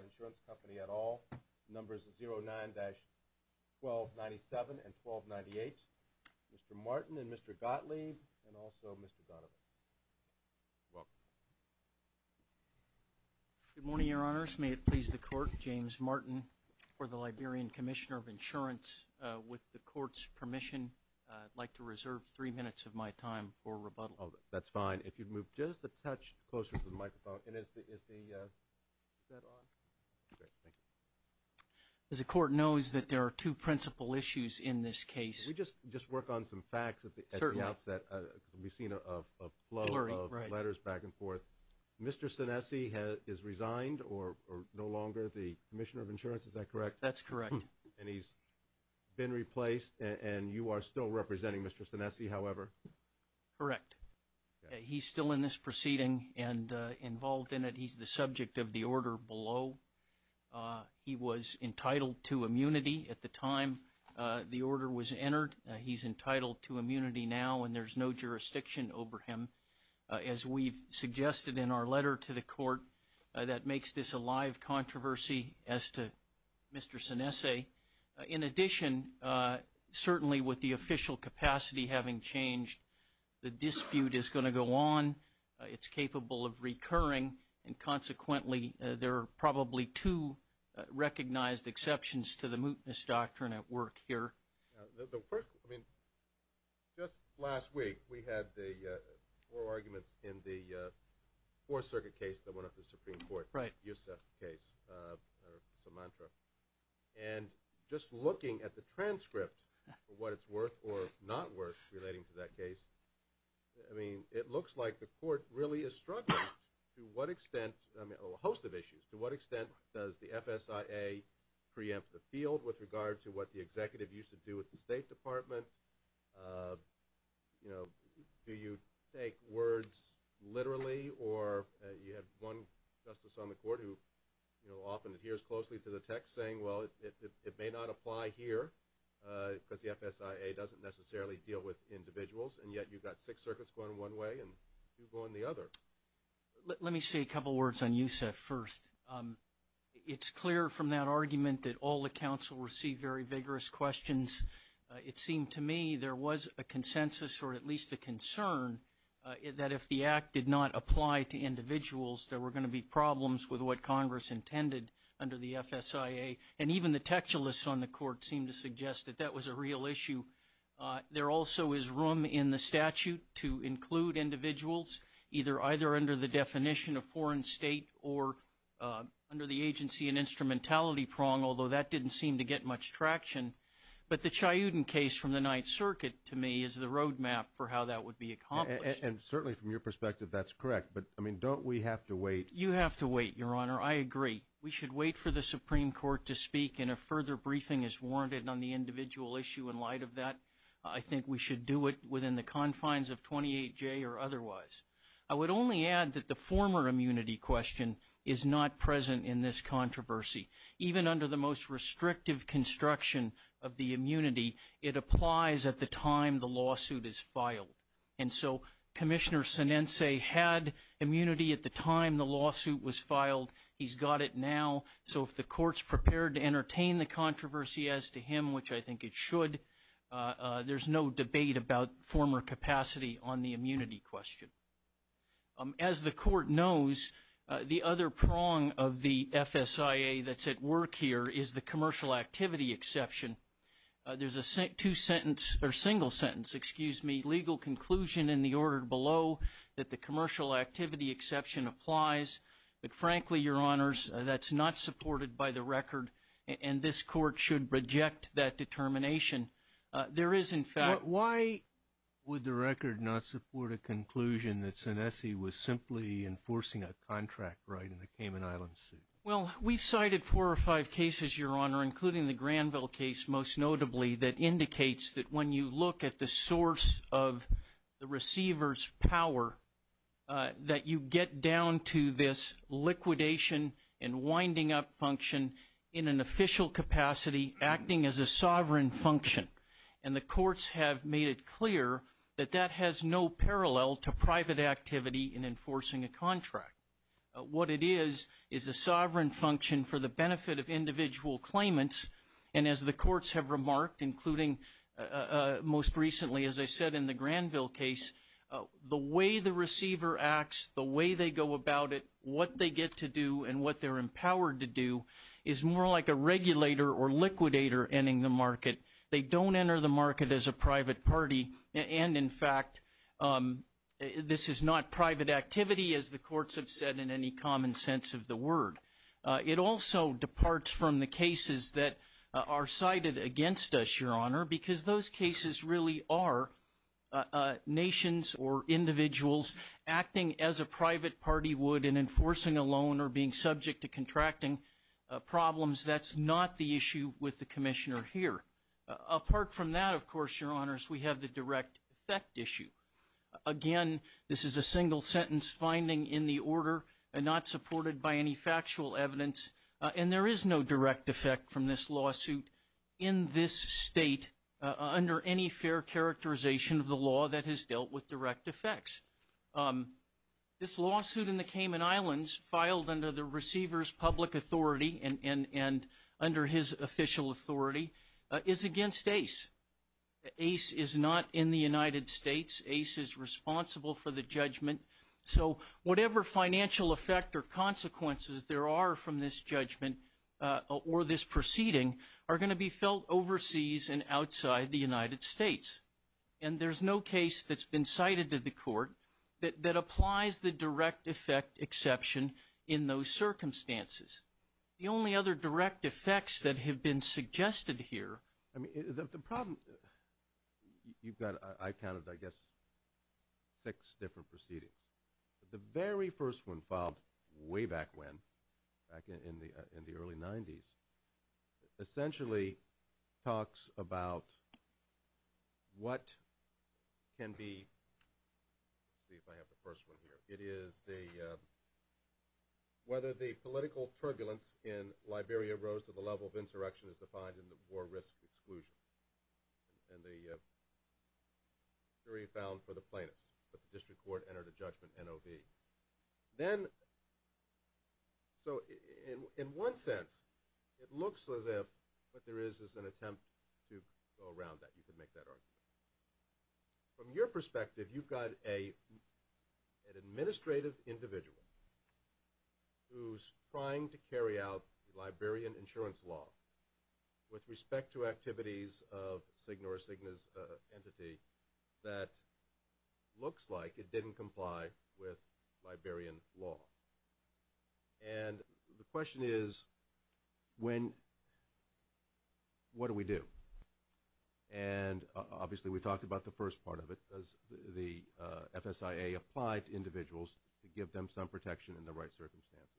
Insurance Company at all. Numbers are 09-1297 and 1298. Mr. Martin and Mr. Gottlieb and also Mr. Donovan. Welcome. Good morning, Your Honors. May it please the Court, James Martin, for the Liberian Commissioner of Insurance. With the Court's permission, I'd like to reserve three minutes of my time for rebuttal. Oh, that's fine. If you'd move just a touch closer to the microphone. And is the set on? Great, thank you. As the Court knows that there are two principal issues in this case. Can we just work on some facts at the outset? Certainly. Because we've seen a flow of letters back and forth. Mr. Sanessy has resigned or no longer the Commissioner of Insurance, is that correct? That's correct. And he's been replaced and you are still representing Mr. Sanessy, however? Correct. He's still in this proceeding and involved in it. He's the subject of the order below. He was entitled to immunity at the time the order was entered. He's entitled to immunity now and there's no jurisdiction over him. As we've suggested in our letter to the Court, that makes this a live controversy as to Mr. Sanessy. In addition, certainly with the official capacity having changed, the dispute is going to go on. It's capable of recurring and consequently there are probably two recognized exceptions to the mootness doctrine at work here. The first, I mean, just last week we had the four arguments in the Fourth Circuit case that went up to the Supreme Court. Right. Yousef case, or Sumantra. And just looking at the transcript of what it's worth or not worth relating to that case, I mean, it looks like the Court really is struggling to what extent, I mean, a host of issues. To what extent does the FSIA preempt the field with regard to what the Executive used to do with the State Department? You know, do you take words literally or you have one Justice on the Court who, you know, often adheres closely to the text saying, well, it may not apply here because the FSIA doesn't necessarily deal with individuals, and yet you've got six circuits going one way and two going the other. Let me say a couple words on Yousef first. It's clear from that argument that all the counsel received very vigorous questions. It seemed to me there was a consensus or at least a concern that if the Act did not apply to individuals, there were going to be problems with what Congress intended under the FSIA. And even the textualists on the Court seemed to suggest that that was a real issue. There also is room in the statute to include individuals either either under the definition of foreign state or under the agency and instrumentality prong, although that didn't seem to get much traction. But the Chayudin case from the Ninth Circuit, to me, is the roadmap for how that would be accomplished. And certainly from your Your Honor, I agree. We should wait for the Supreme Court to speak and a further briefing is warranted on the individual issue in light of that. I think we should do it within the confines of 28J or otherwise. I would only add that the former immunity question is not present in this controversy. Even under the most restrictive construction of the immunity, it applies at the time the lawsuit is filed. And so Commissioner Sinense had immunity at the time the lawsuit was filed. He's got it now. So if the Court's prepared to entertain the controversy as to him, which I think it should, there's no debate about former capacity on the immunity question. As the Court knows, the other prong of the FSIA that's at work here is the commercial activity exception. There's a two sentence or single sentence, excuse me, legal conclusion in the order below that the commercial activity exception applies. But frankly, Your Honors, that's not supported by the record. And this Court should reject that determination. There is, in fact... But why would the record not support a conclusion that Sinense was simply enforcing a contract right in the Cayman Islands suit? Well, we've cited four or five cases, Your Honor, including the Granville case, most notably, that indicates that when you look at the source of the receiver's power, that you get down to this liquidation and winding up function in an official capacity, acting as a sovereign function. And the Courts have made it clear that that has no parallel to private activity in enforcing a contract. What it is, is a sovereign function for the benefit of individual claimants. And as the Courts have remarked, including most recently, as I said, in the Granville case, the way the receiver acts, the way they go about it, what they get to do, and what they're empowered to do, is more like a regulator or liquidator ending the market. They don't enter the market as a private party. And in fact, this is not private activity as the Courts have said in any common sense of the word. It also departs from the cases that are cited against us, Your Honor, because those cases really are nations or individuals acting as a private party would in enforcing a loan or being subject to contracting problems. That's not the issue with the Commissioner here. Apart from that, of course, Your Honors, we have the direct effect issue. Again, this is a single-sentence finding in the order and not supported by any factual evidence. And there is no direct effect from this lawsuit in this state under any fair characterization of the law that has dealt with direct effects. This lawsuit in the Cayman Islands filed under the receiver's public authority and under his official authority is against ACE. ACE is not in the United States. ACE is responsible for the judgment. So whatever financial effect or consequences there are from this judgment or this proceeding are going to be felt overseas and outside the United States. And there's no case that's been cited to the Court that applies the direct effect exception in those circumstances. The only other direct effects that have been suggested here. I mean, the problem – you've got, I counted, I guess, six different proceedings. The very first one filed way back when, back in the early 90s, essentially talks about what can be – let's see if I have the first one here. It is the – whether the political turbulence in Liberia rose to the level of insurrection as defined in the war risk exclusion. And the jury found for the plaintiffs that the district court entered a judgment NOV. Then – so in one sense, it looks as if what there is is an attempt to go around that. You could make that argument. From your perspective, you've got an administrative individual who's trying to carry out Liberian insurance law with respect to activities of SIGNA or SIGNA's entity that looks like it didn't comply with Liberian law. And the question is, when – what do we do? And obviously, we talked about the first part of it, does the FSIA apply to individuals to give them some protection in the right circumstances?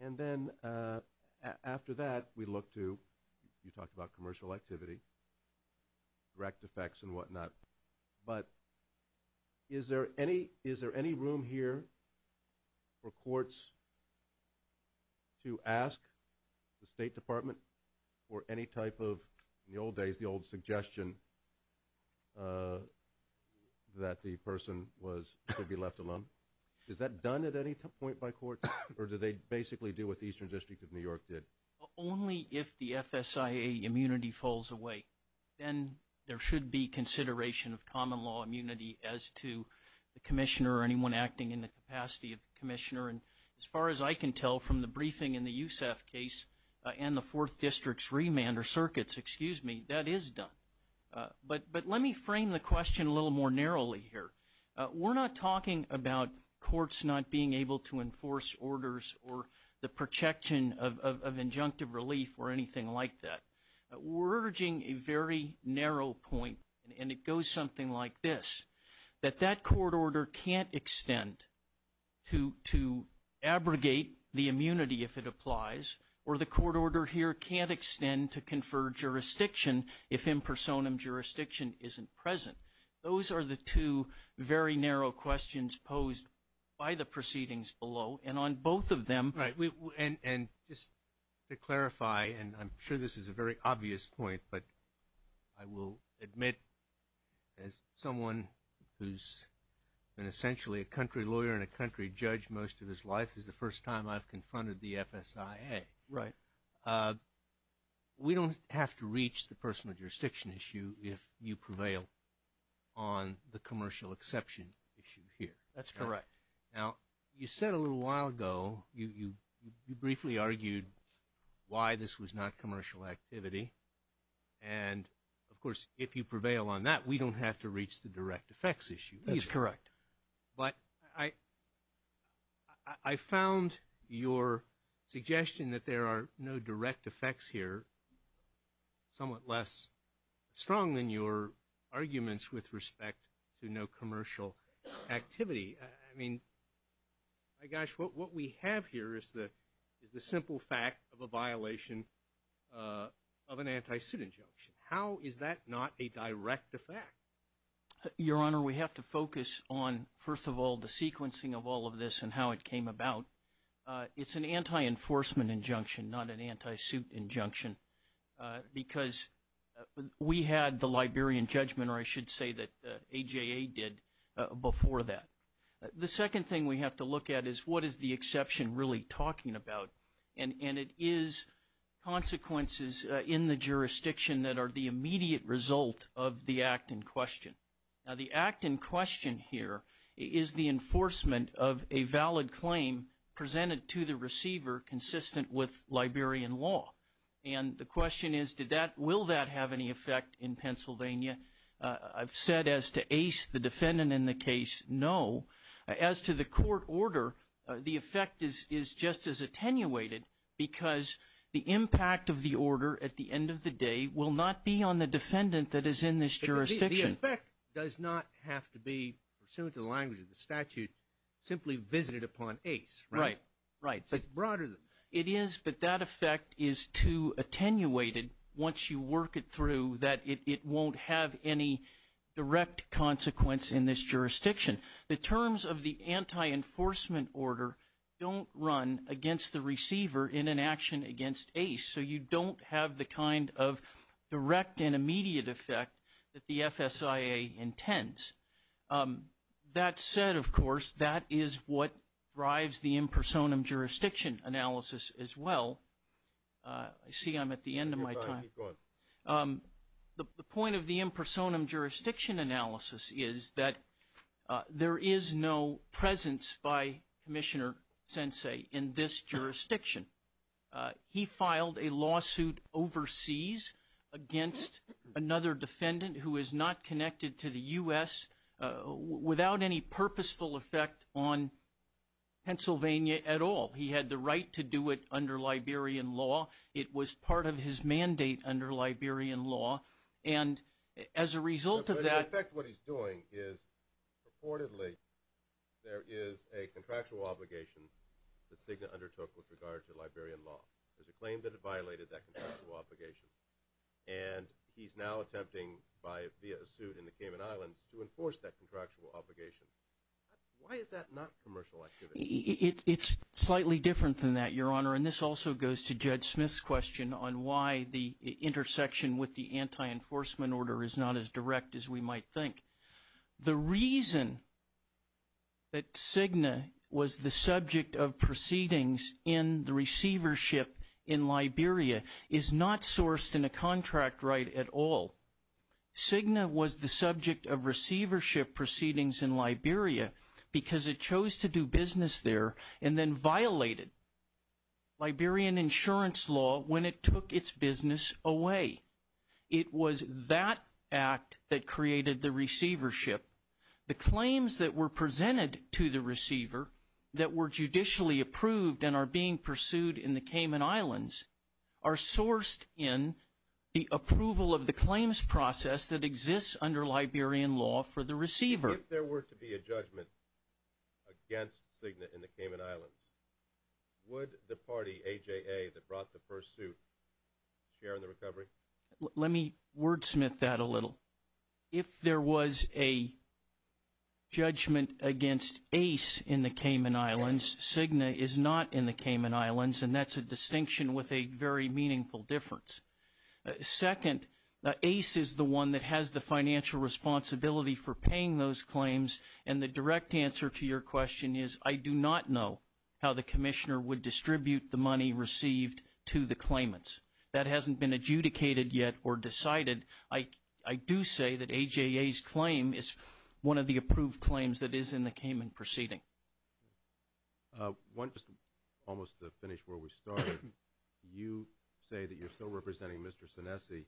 And then after that, we look to – you talked about commercial activity, direct effects and whatnot. But is there any room here for courts to ask the State Department for any type of – that the person was – should be left alone? Is that done at any point by courts? Or do they basically do what the Eastern District of New York did? Only if the FSIA immunity falls away. Then there should be consideration of common law immunity as to the commissioner or anyone acting in the capacity of the commissioner. And as far as I can tell from the briefing in the USAF case and the Fourth District's remand or circuits, excuse me, that is done. But let me frame the question a little more narrowly here. We're not talking about courts not being able to enforce orders or the protection of injunctive relief or anything like that. We're urging a very narrow point, and it goes something like this, that that court order can't extend to abrogate the immunity if it applies, or the court order here can't extend to confer jurisdiction if impersonum jurisdiction isn't present. Those are the two very narrow questions posed by the proceedings below. And on both of them – Right. And just to clarify, and I'm sure this is a very obvious point, but I will admit as someone who's been essentially a country lawyer and a country judge most of his life, this is the first time I've confronted the FSIA. Right. We don't have to reach the personal jurisdiction issue if you prevail on the commercial exception issue here. That's correct. Now, you said a little while ago, you briefly argued why this was not commercial activity. And, of course, if you prevail on that, we don't have to reach the direct effects issue either. That's correct. But I found your suggestion that there are no direct effects here somewhat less strong than your arguments with respect to no commercial activity. I mean, my gosh, what we have here is the simple fact of a violation of an anti-suit injunction. How is that not a direct effect? Your Honor, we have to focus on, first of all, the sequencing of all of this and how it came about. It's an anti-enforcement injunction, not an anti-suit injunction, because we had the Liberian judgment, or I should say that AJA did, before that. The second thing we have to look at is what is the exception really talking about. And it is consequences in the jurisdiction that are the immediate result of the act in question. Now, the act in question here is the enforcement of a valid claim presented to the receiver consistent with Liberian law. And the question is, will that have any effect in Pennsylvania? I've said as to Ace, the defendant in the case, no. As to the court order, the effect is just as attenuated because the impact of the order at the end of the day will not be on the defendant that is in this jurisdiction. The effect does not have to be, pursuant to the language of the statute, simply visited upon Ace, right? Right. It's broader than that. It is, but that effect is too attenuated once you work it through that it won't have any direct consequence in this jurisdiction. The terms of the anti-enforcement order don't run against the receiver in an action against Ace. So you don't have the kind of direct and immediate effect that the FSIA intends. That said, of course, that is what drives the impersonum jurisdiction analysis as well. I see I'm at the end of my time. Keep going. The point of the impersonum jurisdiction analysis is that there is no presence by Commissioner Sensei in this jurisdiction. He filed a lawsuit overseas against another defendant who is not connected to the U.S. without any purposeful effect on Pennsylvania at all. He had the right to do it under Liberian law. It was part of his mandate under Liberian law. And as a result of that – But in effect what he's doing is purportedly there is a contractual obligation that Cigna undertook with regard to Liberian law. There's a claim that it violated that contractual obligation. And he's now attempting via a suit in the Cayman Islands to enforce that contractual obligation. Why is that not commercial activity? It's slightly different than that, Your Honor. And this also goes to Judge Smith's question on why the intersection with the anti-enforcement order is not as direct as we might think. The reason that Cigna was the subject of proceedings in the receivership in Liberia is not sourced in a contract right at all. Cigna was the subject of receivership proceedings in Liberia because it chose to do business there and then violated Liberian insurance law when it took its business away. It was that act that created the receivership. The claims that were presented to the receiver that were judicially approved and are being pursued in the Cayman Islands are sourced in the approval of the claims process that exists under Liberian law for the receiver. If there were to be a judgment against Cigna in the Cayman Islands, would the party, AJA, that brought the first suit share in the recovery? Let me wordsmith that a little. If there was a judgment against Ace in the Cayman Islands, Cigna is not in the Cayman Islands. And that's a distinction with a very meaningful difference. Second, Ace is the one that has the financial responsibility for paying those claims. And the direct answer to your question is I do not know how the commissioner would distribute the money received to the claimants. That hasn't been adjudicated yet or decided. I do say that AJA's claim is one of the approved claims that is in the Cayman proceeding. One, just almost to finish where we started, you say that you're still representing Mr. Sonesse.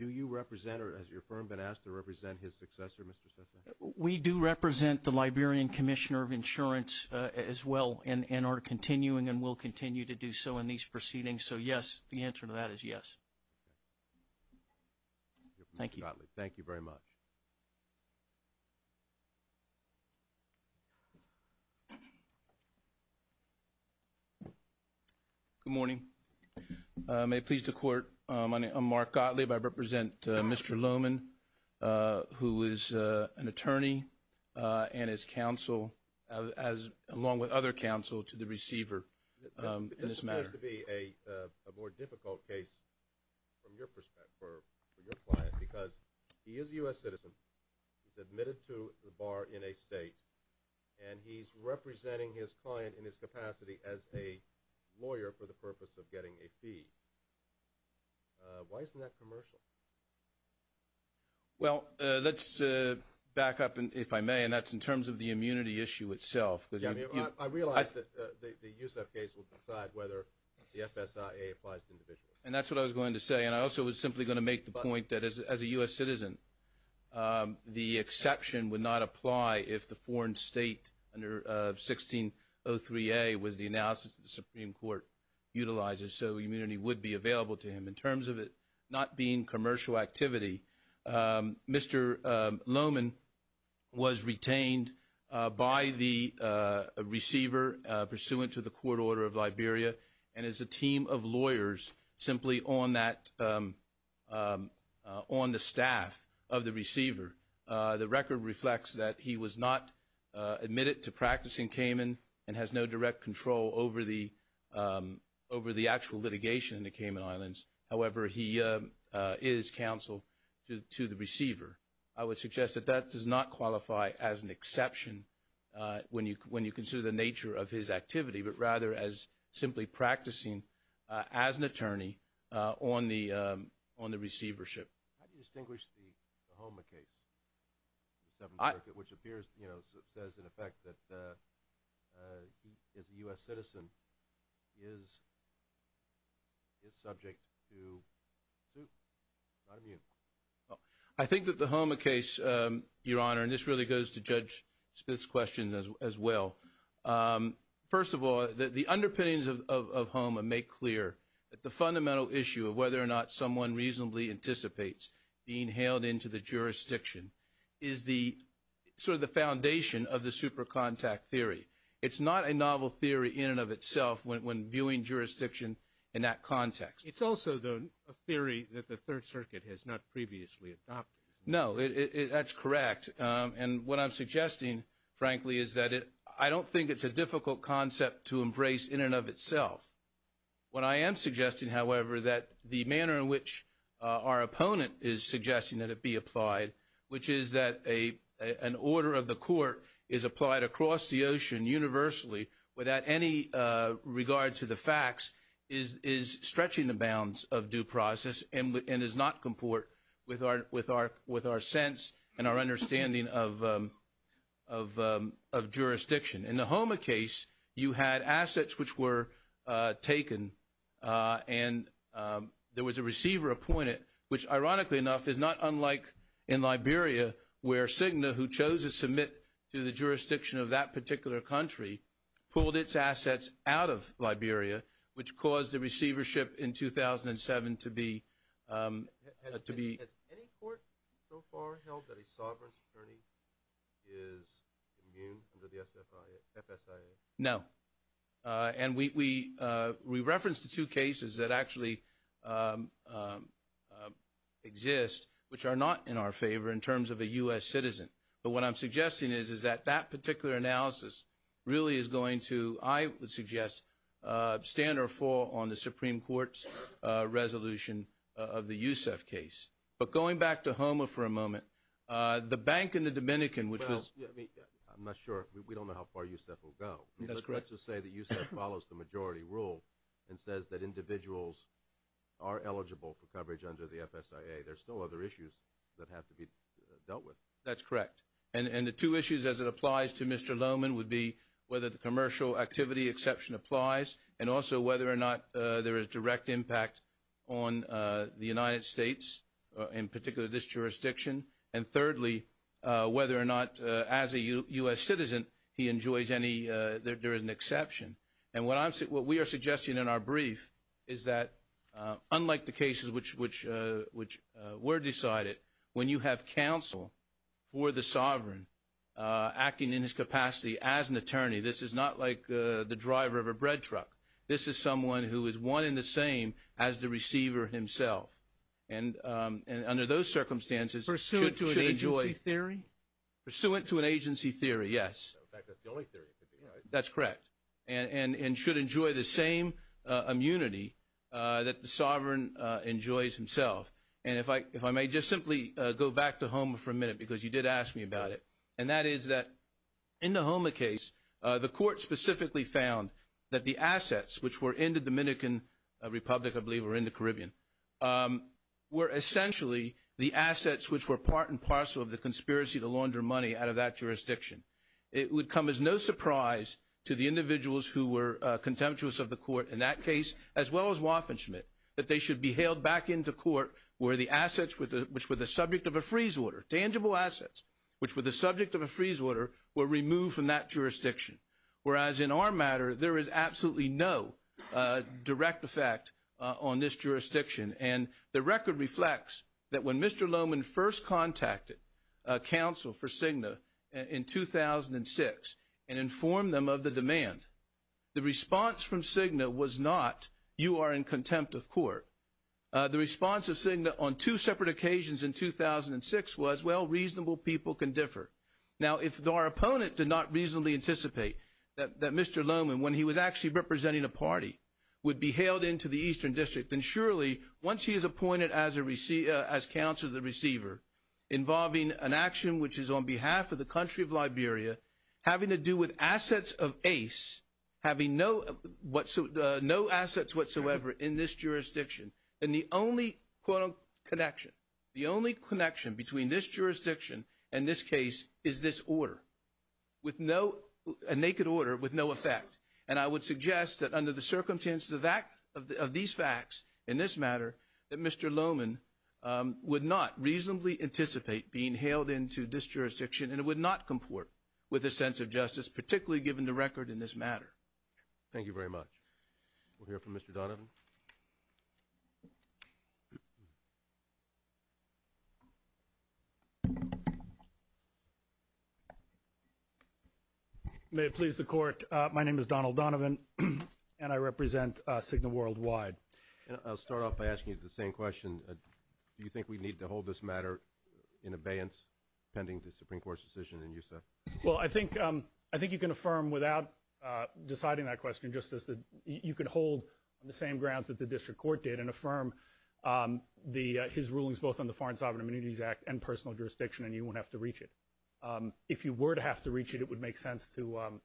Do you represent or has your firm been asked to represent his successor, Mr. Sonesse? We do represent the Liberian Commissioner of Insurance as well and are continuing and will continue to do so in these proceedings. So, yes, the answer to that is yes. Thank you. Mark Gottlieb, thank you very much. Good morning. May it please the Court, my name is Mark Gottlieb. I represent Mr. Lohman, who is an attorney and is counsel along with other counsel to the receiver in this matter. This seems to be a more difficult case from your perspective for your client because he is a U.S. citizen, he's admitted to the bar in a state, and he's representing his client in his capacity as a lawyer for the purpose of getting a fee. Why isn't that commercial? Well, let's back up, if I may, and that's in terms of the immunity issue itself. I realize that the Yousef case will decide whether the FSIA applies to individuals. And that's what I was going to say. And I also was simply going to make the point that as a U.S. citizen, the exception would not apply if the foreign state under 1603A was the analysis that the Supreme Court utilizes, so immunity would be available to him. In terms of it not being commercial activity, Mr. Lohman was retained by the receiver pursuant to the court order of Liberia and is a team of lawyers simply on the staff of the receiver. The record reflects that he was not admitted to practicing Cayman and has no direct control over the actual litigation in the Cayman Islands. However, he is counsel to the receiver. I would suggest that that does not qualify as an exception when you consider the nature of his activity, but rather as simply practicing as an attorney on the receivership. How do you distinguish the Houma case, which appears, you know, says in effect that he is a U.S. citizen, is subject to suit, not immune? I think that the Houma case, Your Honor, and this really goes to Judge Spitz's question as well. First of all, the underpinnings of Houma make clear that the fundamental issue of whether or not someone reasonably anticipates being hailed into the jurisdiction is the sort of the foundation of the super contact theory. It's not a novel theory in and of itself when viewing jurisdiction in that context. It's also, though, a theory that the Third Circuit has not previously adopted. No, that's correct. And what I'm suggesting, frankly, is that I don't think it's a difficult concept to embrace in and of itself. What I am suggesting, however, that the manner in which our opponent is suggesting that it be applied, which is that an order of the court is applied across the ocean universally without any regard to the facts, is stretching the bounds of due process and does not comport with our sense and our understanding of jurisdiction. In the Houma case, you had assets which were taken and there was a receiver appointed, which ironically enough is not unlike in Liberia where Cigna, who chose to submit to the jurisdiction of that particular country, pulled its assets out of Liberia, which caused the receivership in 2007 to be. Has any court so far held that a sovereign attorney is immune under the FSIA? No. And we referenced the two cases that actually exist, which are not in our favor in terms of a U.S. citizen. But what I'm suggesting is that that particular analysis really is going to, I would suggest, stand or fall on the Supreme Court's resolution of the Yousef case. But going back to Houma for a moment, the bank in the Dominican, which was. I'm not sure. We don't know how far Yousef will go. That's correct. To say that Yousef follows the majority rule and says that individuals are eligible for coverage under the FSIA, there's still other issues that have to be dealt with. That's correct. And the two issues as it applies to Mr. Lohman would be whether the commercial activity exception applies and also whether or not there is direct impact on the United States, in particular this jurisdiction. And thirdly, whether or not as a U.S. citizen he enjoys any, there is an exception. And what we are suggesting in our brief is that unlike the cases which were decided, when you have counsel for the sovereign acting in his capacity as an attorney, this is not like the driver of a bread truck. This is someone who is one and the same as the receiver himself. And under those circumstances should enjoy. Pursuant to an agency theory? Pursuant to an agency theory, yes. In fact, that's the only theory. That's correct. And should enjoy the same immunity that the sovereign enjoys himself. And if I may just simply go back to Houma for a minute because you did ask me about it, and that is that in the Houma case, the court specifically found that the assets, which were in the Dominican Republic, I believe, or in the Caribbean, were essentially the assets which were part and parcel of the conspiracy to launder money out of that jurisdiction. It would come as no surprise to the individuals who were contemptuous of the court in that case, as well as Waffenschmidt, that they should be hailed back into court where the assets, which were the subject of a freeze order, tangible assets, which were the subject of a freeze order, were removed from that jurisdiction. Whereas in our matter, there is absolutely no direct effect on this jurisdiction. And the record reflects that when Mr. Lohmann first contacted counsel for Cigna in 2006 and informed them of the demand, the response from Cigna was not, you are in contempt of court. The response of Cigna on two separate occasions in 2006 was, well, reasonable people can differ. Now, if our opponent did not reasonably anticipate that Mr. Lohmann, when he was actually representing a party, would be hailed into the Eastern District, then surely once he is appointed as counsel to the receiver involving an action, which is on behalf of the country of Liberia, having to do with assets of ACE, having no assets whatsoever in this jurisdiction, then the only, quote, connection, the only connection between this jurisdiction and this case is this order. With no, a naked order with no effect. And I would suggest that under the circumstances of these facts in this matter, that Mr. Lohmann would not reasonably anticipate being hailed into this jurisdiction and would not comport with a sense of justice, particularly given the record in this matter. Thank you very much. We'll hear from Mr. Donovan. May it please the Court, my name is Donald Donovan and I represent Cigna Worldwide. I'll start off by asking you the same question. Do you think we need to hold this matter in abeyance pending the Supreme Court's decision in USA? Well, I think you can affirm without deciding that question, Justice, that you can hold the same grounds that the District Court did and affirm his rulings both on the Foreign Sovereign Immunities Act and personal jurisdiction and you won't have to reach it. If you were to have to reach it, it would make sense to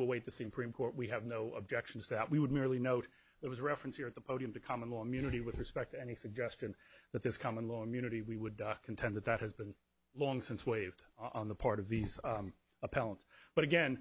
await the Supreme Court. We have no objections to that. We would merely note there was a reference here at the podium to common law immunity with respect to any suggestion that this common law immunity, we would contend that that has been long since waived on the part of these appellants. But again,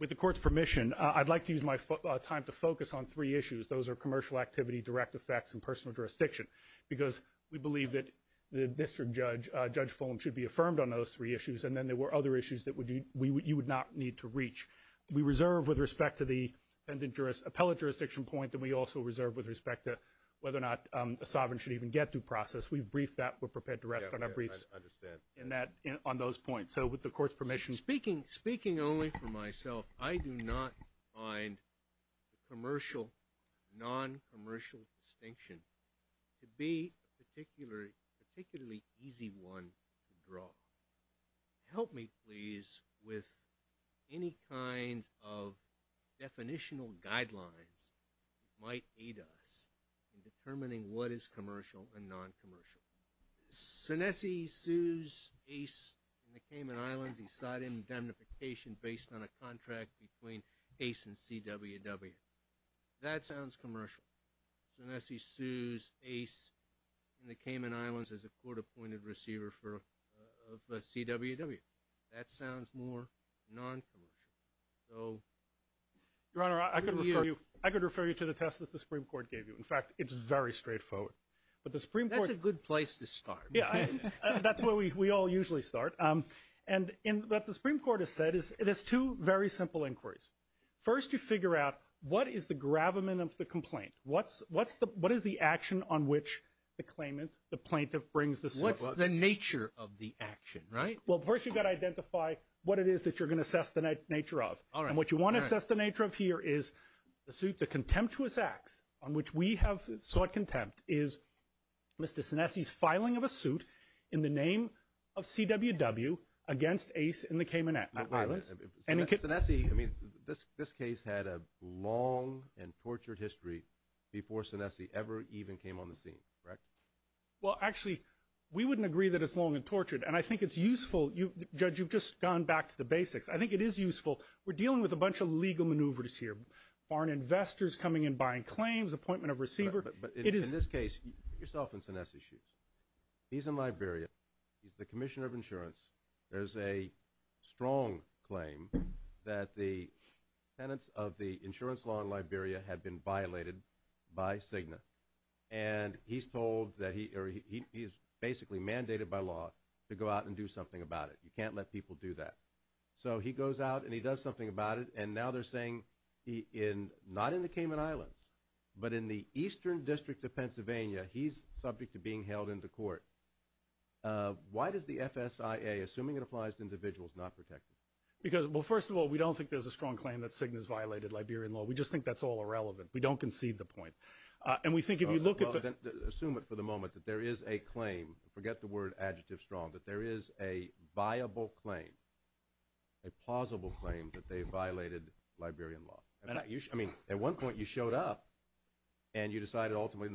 with the Court's permission, I'd like to use my time to focus on three issues. Those are commercial activity, direct effects, and personal jurisdiction because we believe that the District Judge, Judge Fulham, should be affirmed on those three issues and then there were other issues that you would not need to reach. We reserve with respect to the appellate jurisdiction point and we also reserve with respect to whether or not a sovereign should even get through process. We've briefed that. We're prepared to rest on our briefs on those points. So with the Court's permission. Speaking only for myself, I do not find commercial, non-commercial distinction to be a particularly easy one to draw. Help me please with any kinds of definitional guidelines that might aid us in determining what is commercial and non-commercial. Sonesse sues Ace in the Cayman Islands. He sought indemnification based on a contract between Ace and CWW. That sounds commercial. Sonesse sues Ace in the Cayman Islands as a court-appointed receiver of CWW. That sounds more non-commercial. Your Honor, I could refer you to the test that the Supreme Court gave you. In fact, it's very straightforward. That's a good place to start. Yeah, that's where we all usually start. And what the Supreme Court has said is it has two very simple inquiries. First, you figure out what is the gravamen of the complaint? What is the action on which the claimant, the plaintiff, brings the suit? What's the nature of the action, right? Well, first you've got to identify what it is that you're going to assess the nature of. And what you want to assess the nature of here is the contemptuous acts on which we have sought contempt is Mr. Sonesse's filing of a suit in the name of CWW against Ace in the Cayman Islands. Sonesse, I mean, this case had a long and tortured history before Sonesse ever even came on the scene, correct? Well, actually, we wouldn't agree that it's long and tortured. And I think it's useful. Judge, you've just gone back to the basics. I think it is useful. We're dealing with a bunch of legal maneuvers here. Foreign investors coming in, buying claims, appointment of receiver. But in this case, yourself and Sonesse's shoes. He's in Liberia. He's the commissioner of insurance. There's a strong claim that the tenants of the insurance law in Liberia had been violated by Cigna. And he's basically mandated by law to go out and do something about it. You can't let people do that. So he goes out and he does something about it. And now they're saying, not in the Cayman Islands, but in the eastern district of Pennsylvania, he's subject to being held into court. Why does the FSIA, assuming it applies to individuals, not protect him? Well, first of all, we don't think there's a strong claim that Cigna's violated Liberian law. We just think that's all irrelevant. We don't concede the point. Assume it for the moment that there is a claim, forget the word adjective strong, that there is a viable claim, a plausible claim that they violated Liberian law. I mean, at one point you showed up and you decided ultimately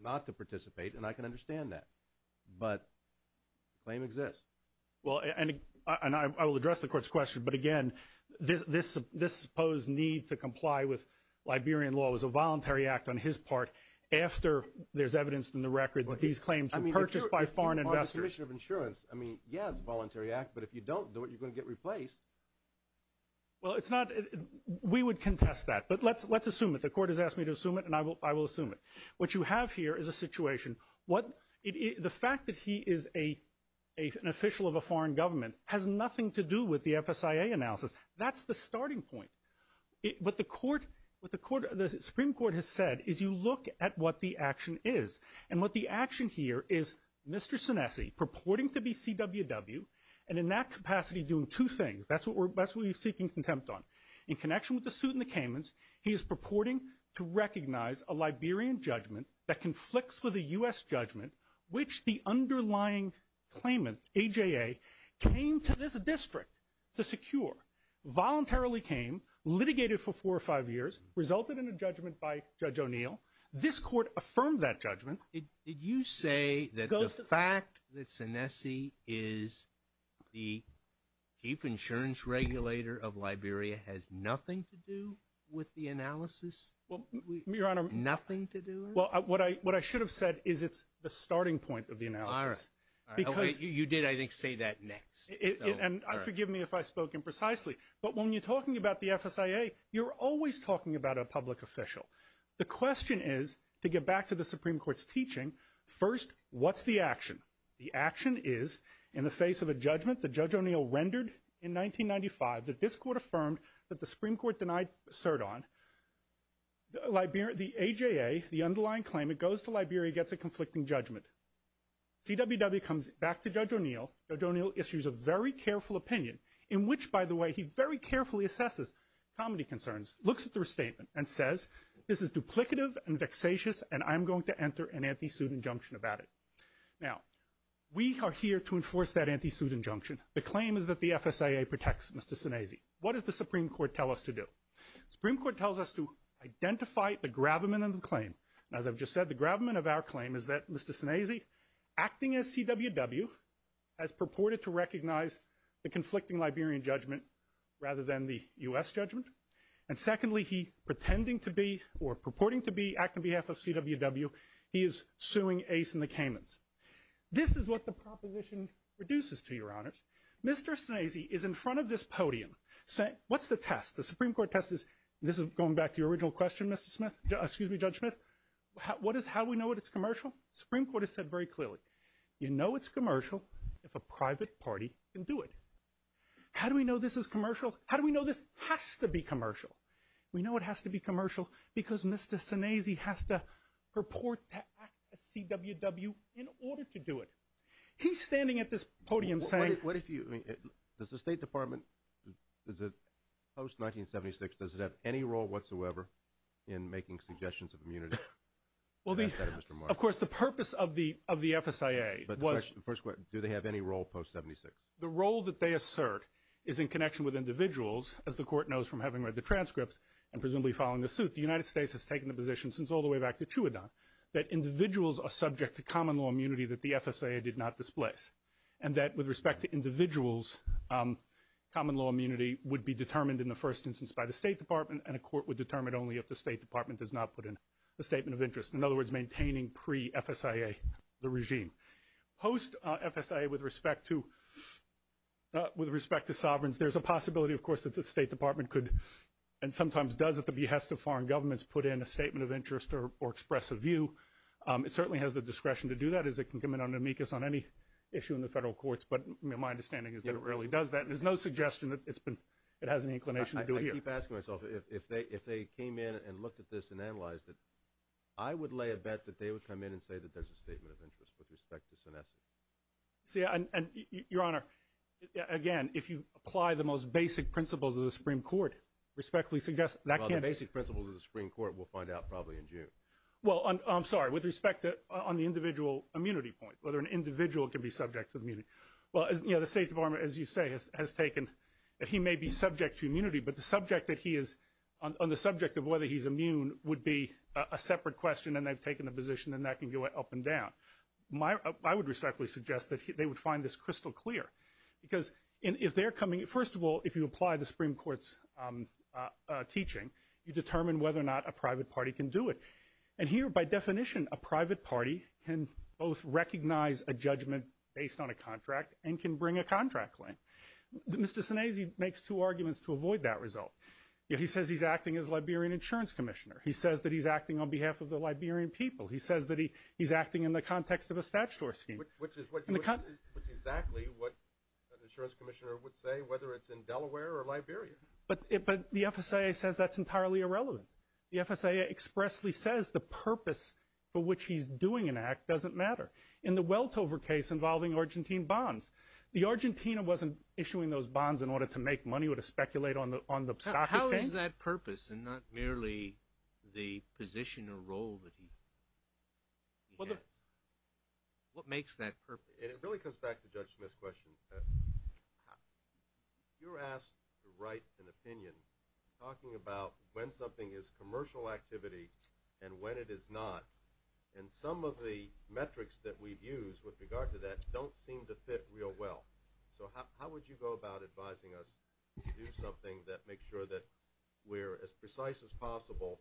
not to participate, and I can understand that. But the claim exists. Well, and I will address the court's question. But, again, this supposed need to comply with Liberian law was a voluntary act on his part after there's evidence in the record that these claims were purchased by foreign investors. I mean, yeah, it's a voluntary act. But if you don't do it, you're going to get replaced. Well, we would contest that. But let's assume it. The court has asked me to assume it, and I will assume it. What you have here is a situation. The fact that he is an official of a foreign government has nothing to do with the FSIA analysis. That's the starting point. What the Supreme Court has said is you look at what the action is. And what the action here is Mr. Sanessy purporting to be CWW and in that capacity doing two things. That's what we're seeking contempt on. In connection with the suit in the Caymans, he is purporting to recognize a Liberian judgment that conflicts with a U.S. judgment which the underlying claimant, AJA, came to this district to secure, voluntarily came, litigated for four or five years, resulted in a judgment by Judge O'Neill. This court affirmed that judgment. Did you say that the fact that Sanessy is the chief insurance regulator of Liberia has nothing to do with the analysis? Your Honor, what I should have said is it's the starting point of the analysis. You did, I think, say that next. And forgive me if I spoke imprecisely. But when you're talking about the FSIA, you're always talking about a public official. The question is, to get back to the Supreme Court's teaching, first, what's the action? The action is in the face of a judgment that Judge O'Neill rendered in 1995 that this court affirmed that the Supreme Court denied cert on. The AJA, the underlying claimant, goes to Liberia and gets a conflicting judgment. CWW comes back to Judge O'Neill. Judge O'Neill issues a very careful opinion in which, by the way, he very carefully assesses comedy concerns, looks at the restatement, and says, this is duplicative and vexatious, and I'm going to enter an anti-suit injunction about it. Now, we are here to enforce that anti-suit injunction. The claim is that the FSIA protects Mr. Sinese. What does the Supreme Court tell us to do? The Supreme Court tells us to identify the gravamen of the claim. As I've just said, the gravamen of our claim is that Mr. Sinese, acting as CWW, has purported to recognize the conflicting Liberian judgment rather than the U.S. judgment. And secondly, he pretending to be, or purporting to be, acting on behalf of CWW, he is suing Ace and the Kamens. This is what the proposition reduces to, Your Honors. Mr. Sinese is in front of this podium saying, what's the test? The Supreme Court test is, this is going back to your original question, Mr. Smith, excuse me, Judge Smith, how do we know that it's commercial? The Supreme Court has said very clearly, you know it's commercial if a private party can do it. How do we know this is commercial? How do we know this has to be commercial? We know it has to be commercial because Mr. Sinese has to purport to act as CWW in order to do it. He's standing at this podium saying. What if you, does the State Department, post-1976, does it have any role whatsoever in making suggestions of immunity? Of course, the purpose of the FSIA was. Do they have any role post-1976? The role that they assert is in connection with individuals, as the Court knows from having read the transcripts and presumably following the suit, the United States has taken the position since all the way back to Chuadon, that individuals are subject to common law immunity that the FSIA did not displace. And that with respect to individuals, common law immunity would be determined in the first instance by the State Department, and a court would determine only if the State Department does not put in a statement of interest. In other words, maintaining pre-FSIA the regime. Post-FSIA with respect to sovereigns, there's a possibility, of course, that the State Department could, and sometimes does at the behest of foreign governments, put in a statement of interest or express a view. It certainly has the discretion to do that, as it can come in on amicus on any issue in the federal courts, but my understanding is that it rarely does that. There's no suggestion that it has any inclination to do it here. I keep asking myself, if they came in and looked at this and analyzed it, I would lay a bet that they would come in and say that there's a statement of interest with respect to senescence. Your Honor, again, if you apply the most basic principles of the Supreme Court, respectfully suggest that can't be. Well, the basic principles of the Supreme Court, we'll find out probably in June. Well, I'm sorry, with respect to on the individual immunity point, whether an individual can be subject to immunity. Well, the State Department, as you say, has taken that he may be subject to immunity, but the subject that he is, on the subject of whether he's immune would be a separate question, and they've taken a position, and that can go up and down. I would respectfully suggest that they would find this crystal clear. Because if they're coming, first of all, if you apply the Supreme Court's teaching, you determine whether or not a private party can do it. And here, by definition, a private party can both recognize a judgment based on a contract and can bring a contract claim. Mr. Senezi makes two arguments to avoid that result. He says he's acting as a Liberian insurance commissioner. He says that he's acting on behalf of the Liberian people. He says that he's acting in the context of a statutory scheme. Which is exactly what an insurance commissioner would say, whether it's in Delaware or Liberia. But the FSIA says that's entirely irrelevant. The FSIA expressly says the purpose for which he's doing an act doesn't matter. In the Weltover case involving Argentine bonds, the Argentina wasn't issuing those bonds in order to make money or to speculate on the stock exchange. What is that purpose and not merely the position or role that he has? What makes that purpose? It really comes back to Judge Smith's question. You were asked to write an opinion talking about when something is commercial activity and when it is not. And some of the metrics that we've used with regard to that don't seem to fit real well. So how would you go about advising us to do something that makes sure that we're as precise as possible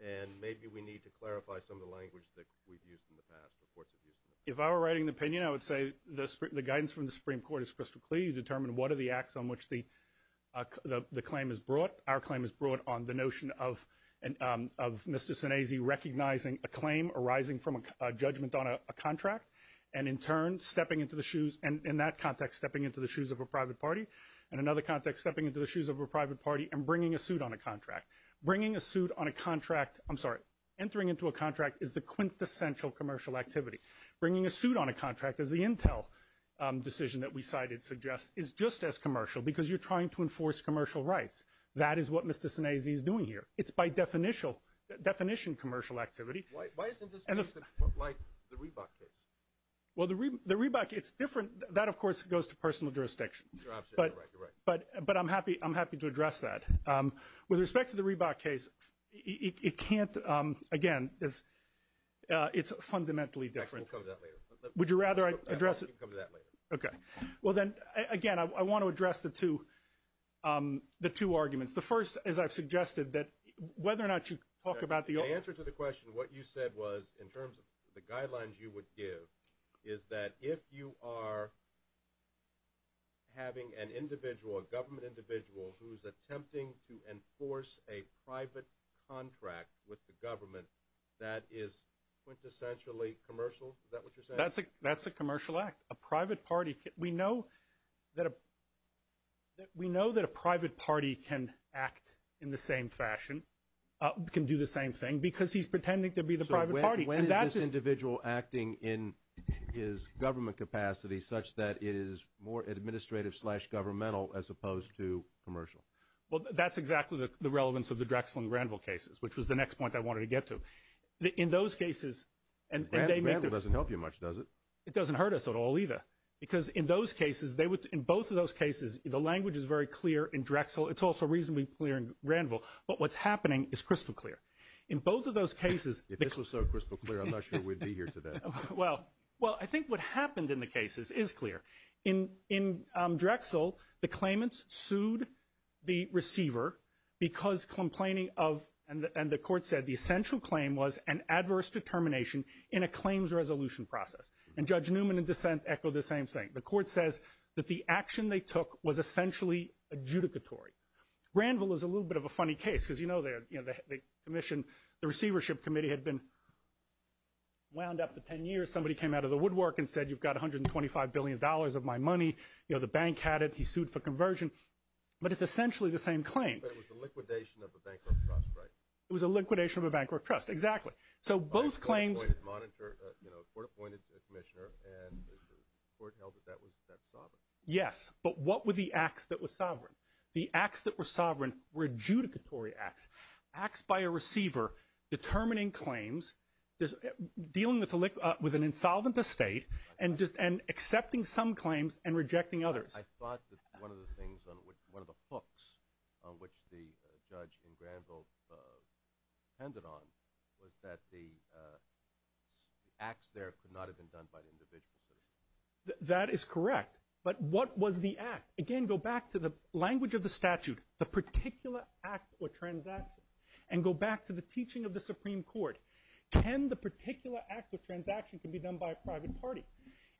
and maybe we need to clarify some of the language that we've used in the past or courts have used in the past? If I were writing an opinion, I would say the guidance from the Supreme Court is crystal clear. You determine what are the acts on which the claim is brought. Our claim is brought on the notion of Mr. Sinesi recognizing a claim arising from a judgment on a contract and in that context stepping into the shoes of a private party and another context stepping into the shoes of a private party and bringing a suit on a contract. Entering into a contract is the quintessential commercial activity. Bringing a suit on a contract, as the Intel decision that we cited suggests, is just as commercial because you're trying to enforce commercial rights. That is what Mr. Sinesi is doing here. It's by definition commercial activity. Why isn't this like the Reebok case? Well, the Reebok, it's different. That, of course, goes to personal jurisdiction. You're absolutely right. You're right. But I'm happy to address that. With respect to the Reebok case, it can't, again, it's fundamentally different. We'll come to that later. Would you rather I address it? We can come to that later. Okay. Well, then, again, I want to address the two arguments. The first is I've suggested that whether or not you talk about the old The answer to the question, what you said was, in terms of the guidelines you would give, is that if you are having an individual, a government individual, who's attempting to enforce a private contract with the government, that is quintessentially commercial? Is that what you're saying? That's a commercial act. A private party, we know that a private party can act in the same fashion, can do the same thing, because he's pretending to be the private party. So when is this individual acting in his government capacity such that it is more administrative slash governmental as opposed to commercial? Well, that's exactly the relevance of the Drexel and Granville cases, which was the next point I wanted to get to. In those cases, and they make the – Granville doesn't help you much, does it? It doesn't hurt us at all, either, because in those cases, in both of those cases, the language is very clear in Drexel. It's also reasonably clear in Granville. But what's happening is crystal clear. In both of those cases – If this was so crystal clear, I'm not sure we'd be here today. Well, I think what happened in the cases is clear. In Drexel, the claimants sued the receiver because complaining of – and the court said the essential claim was an adverse determination in a claims resolution process. And Judge Newman in dissent echoed the same thing. The court says that the action they took was essentially adjudicatory. Granville is a little bit of a funny case because, you know, the commission – the receivership committee had been wound up for 10 years. Somebody came out of the woodwork and said, you've got $125 billion of my money. You know, the bank had it. He sued for conversion. But it's essentially the same claim. But it was the liquidation of a bankrupt trust, right? It was a liquidation of a bankrupt trust, exactly. So both claims – You know, the court appointed a commissioner and the court held that that was sovereign. Yes, but what were the acts that were sovereign? The acts that were sovereign were adjudicatory acts, acts by a receiver determining claims, dealing with an insolvent estate, and accepting some claims and rejecting others. I thought that one of the things – one of the hooks on which the judge in Granville handed on was that the acts there could not have been done by the individual citizen. That is correct. But what was the act? Again, go back to the language of the statute, the particular act or transaction. And go back to the teaching of the Supreme Court. Can the particular act or transaction can be done by a private party?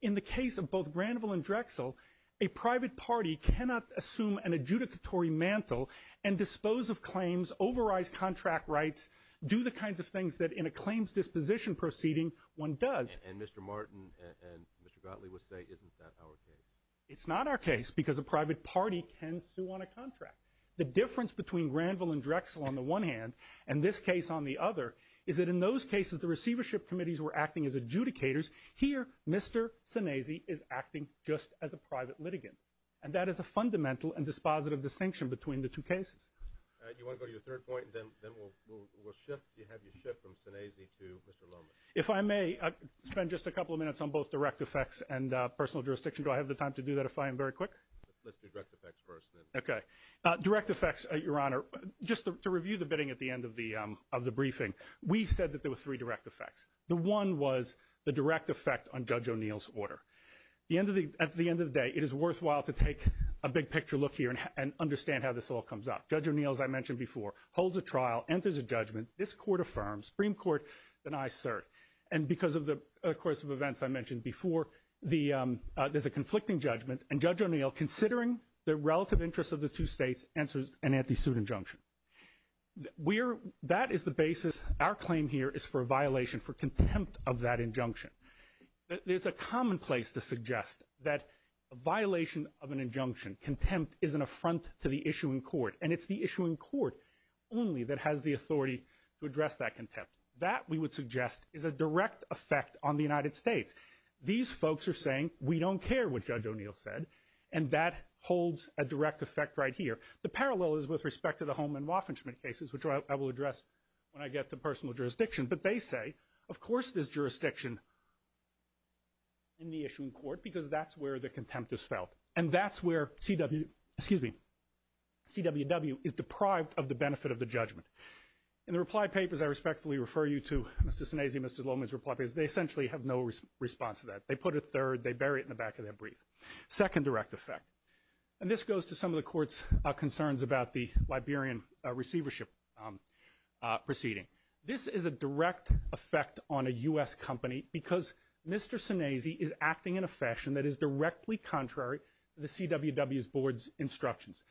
In the case of both Granville and Drexel, a private party cannot assume an adjudicatory mantle and dispose of claims, override contract rights, do the kinds of things that in a claims disposition proceeding one does. And Mr. Martin and Mr. Gottlieb would say, isn't that our case? It's not our case because a private party can sue on a contract. The difference between Granville and Drexel on the one hand and this case on the other is that in those cases the receivership committees were acting as adjudicators. Here, Mr. Sinezi is acting just as a private litigant. And that is a fundamental and dispositive distinction between the two cases. Do you want to go to your third point? Then we'll have you shift from Sinezi to Mr. Loman. If I may, I'll spend just a couple of minutes on both direct effects and personal jurisdiction. Do I have the time to do that if I am very quick? Let's do direct effects first then. Okay. Direct effects, Your Honor, just to review the bidding at the end of the briefing, we said that there were three direct effects. The one was the direct effect on Judge O'Neill's order. At the end of the day, it is worthwhile to take a big picture look here and understand how this all comes up. Judge O'Neill, as I mentioned before, holds a trial, enters a judgment. This court affirms. Supreme Court denies cert. And because of the course of events I mentioned before, there's a conflicting judgment. And Judge O'Neill, considering the relative interests of the two states, answers an anti-suit injunction. That is the basis. Our claim here is for a violation for contempt of that injunction. There's a commonplace to suggest that a violation of an injunction, contempt is an affront to the issuing court, and it's the issuing court only that has the authority to address that contempt. That, we would suggest, is a direct effect on the United States. These folks are saying, we don't care what Judge O'Neill said, and that holds a direct effect right here. The parallel is with respect to the Holman-Woffenschmidt cases, which I will address when I get to personal jurisdiction. But they say, of course there's jurisdiction in the issuing court because that's where the contempt is felt. And that's where CWW is deprived of the benefit of the judgment. In the reply papers I respectfully refer you to, Mr. Snezdy and Mr. Lohman's reply papers, they essentially have no response to that. They put a third, they bury it in the back of their brief. Second direct effect. And this goes to some of the court's concerns about the Liberian receivership proceeding. This is a direct effect on a U.S. company because Mr. Snezdy is acting in a fashion that is directly contrary to the CWW's board's instructions.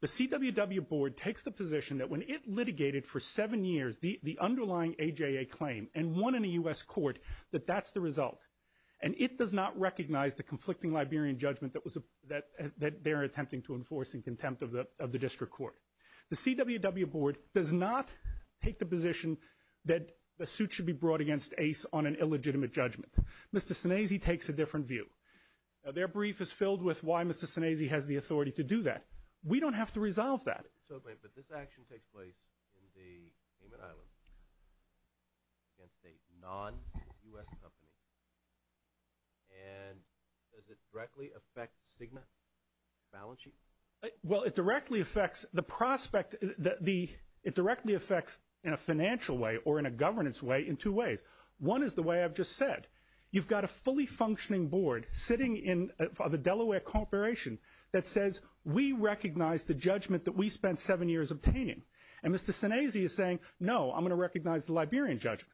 The CWW board takes the position that when it litigated for seven years the underlying AJA claim and won in a U.S. court, that that's the result. And it does not recognize the conflicting Liberian judgment that they are attempting to enforce in contempt of the district court. The CWW board does not take the position that a suit should be brought against ACE on an illegitimate judgment. Mr. Snezdy takes a different view. Their brief is filled with why Mr. Snezdy has the authority to do that. We don't have to resolve that. But this action takes place in the Cayman Islands against a non-U.S. company. And does it directly affect Cigna balance sheet? Well, it directly affects the prospect that the ‑‑ it directly affects in a financial way or in a governance way in two ways. One is the way I've just said. You've got a fully functioning board sitting in the Delaware corporation that says, we recognize the judgment that we spent seven years obtaining. And Mr. Snezdy is saying, no, I'm going to recognize the Liberian judgment.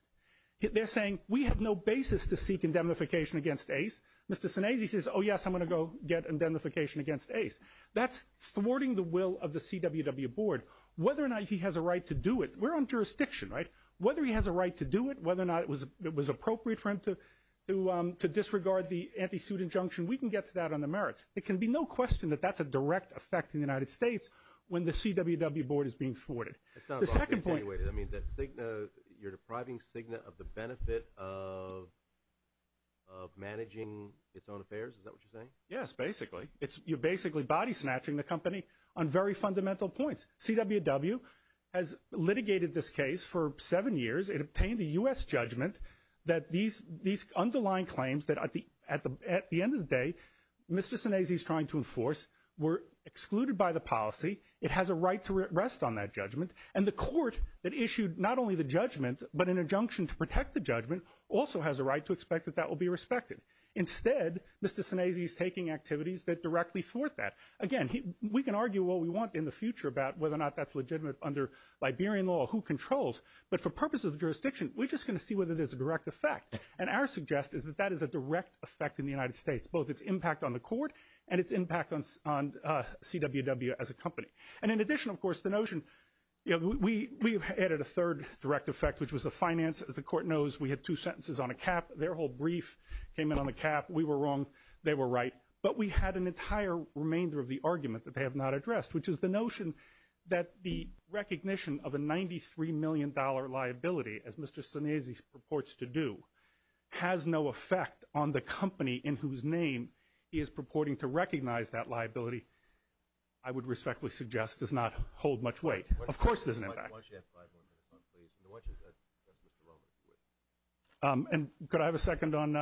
They're saying, we have no basis to seek indemnification against ACE. Mr. Snezdy says, oh, yes, I'm going to go get indemnification against ACE. That's thwarting the will of the CWW board. Whether or not he has a right to do it, we're on jurisdiction, right? Whether he has a right to do it, whether or not it was appropriate for him to disregard the anti‑suit injunction, we can get to that on the merits. It can be no question that that's a direct effect in the United States when the CWW board is being thwarted. The second point ‑‑ It sounds like you're depriving Cigna of the benefit of managing its own affairs. Is that what you're saying? Yes, basically. You're basically body snatching the company on very fundamental points. CWW has litigated this case for seven years. It obtained a U.S. judgment that these underlying claims that at the end of the day, Mr. Snezdy is trying to enforce were excluded by the policy. It has a right to rest on that judgment. And the court that issued not only the judgment but an injunction to protect the judgment also has a right to expect that that will be respected. Instead, Mr. Snezdy is taking activities that directly thwart that. Again, we can argue what we want in the future about whether or not that's legitimate under Liberian law, who controls. But for purposes of jurisdiction, we're just going to see whether there's a direct effect. And our suggest is that that is a direct effect in the United States, both its impact on the court and its impact on CWW as a company. And in addition, of course, the notion ‑‑ we added a third direct effect, which was the finance. As the court knows, we had two sentences on a cap. Their whole brief came in on a cap. We were wrong. They were right. But we had an entire remainder of the argument that they have not addressed, which is the notion that the recognition of a $93 million liability, as Mr. Snezdy purports to do, has no effect on the company in whose name he is purporting to recognize that liability, I would respectfully suggest, does not hold much weight. Of course there's an impact. Why don't you have five more minutes on, please? And why don't you let Mr. Lohman do it? And could I have a second on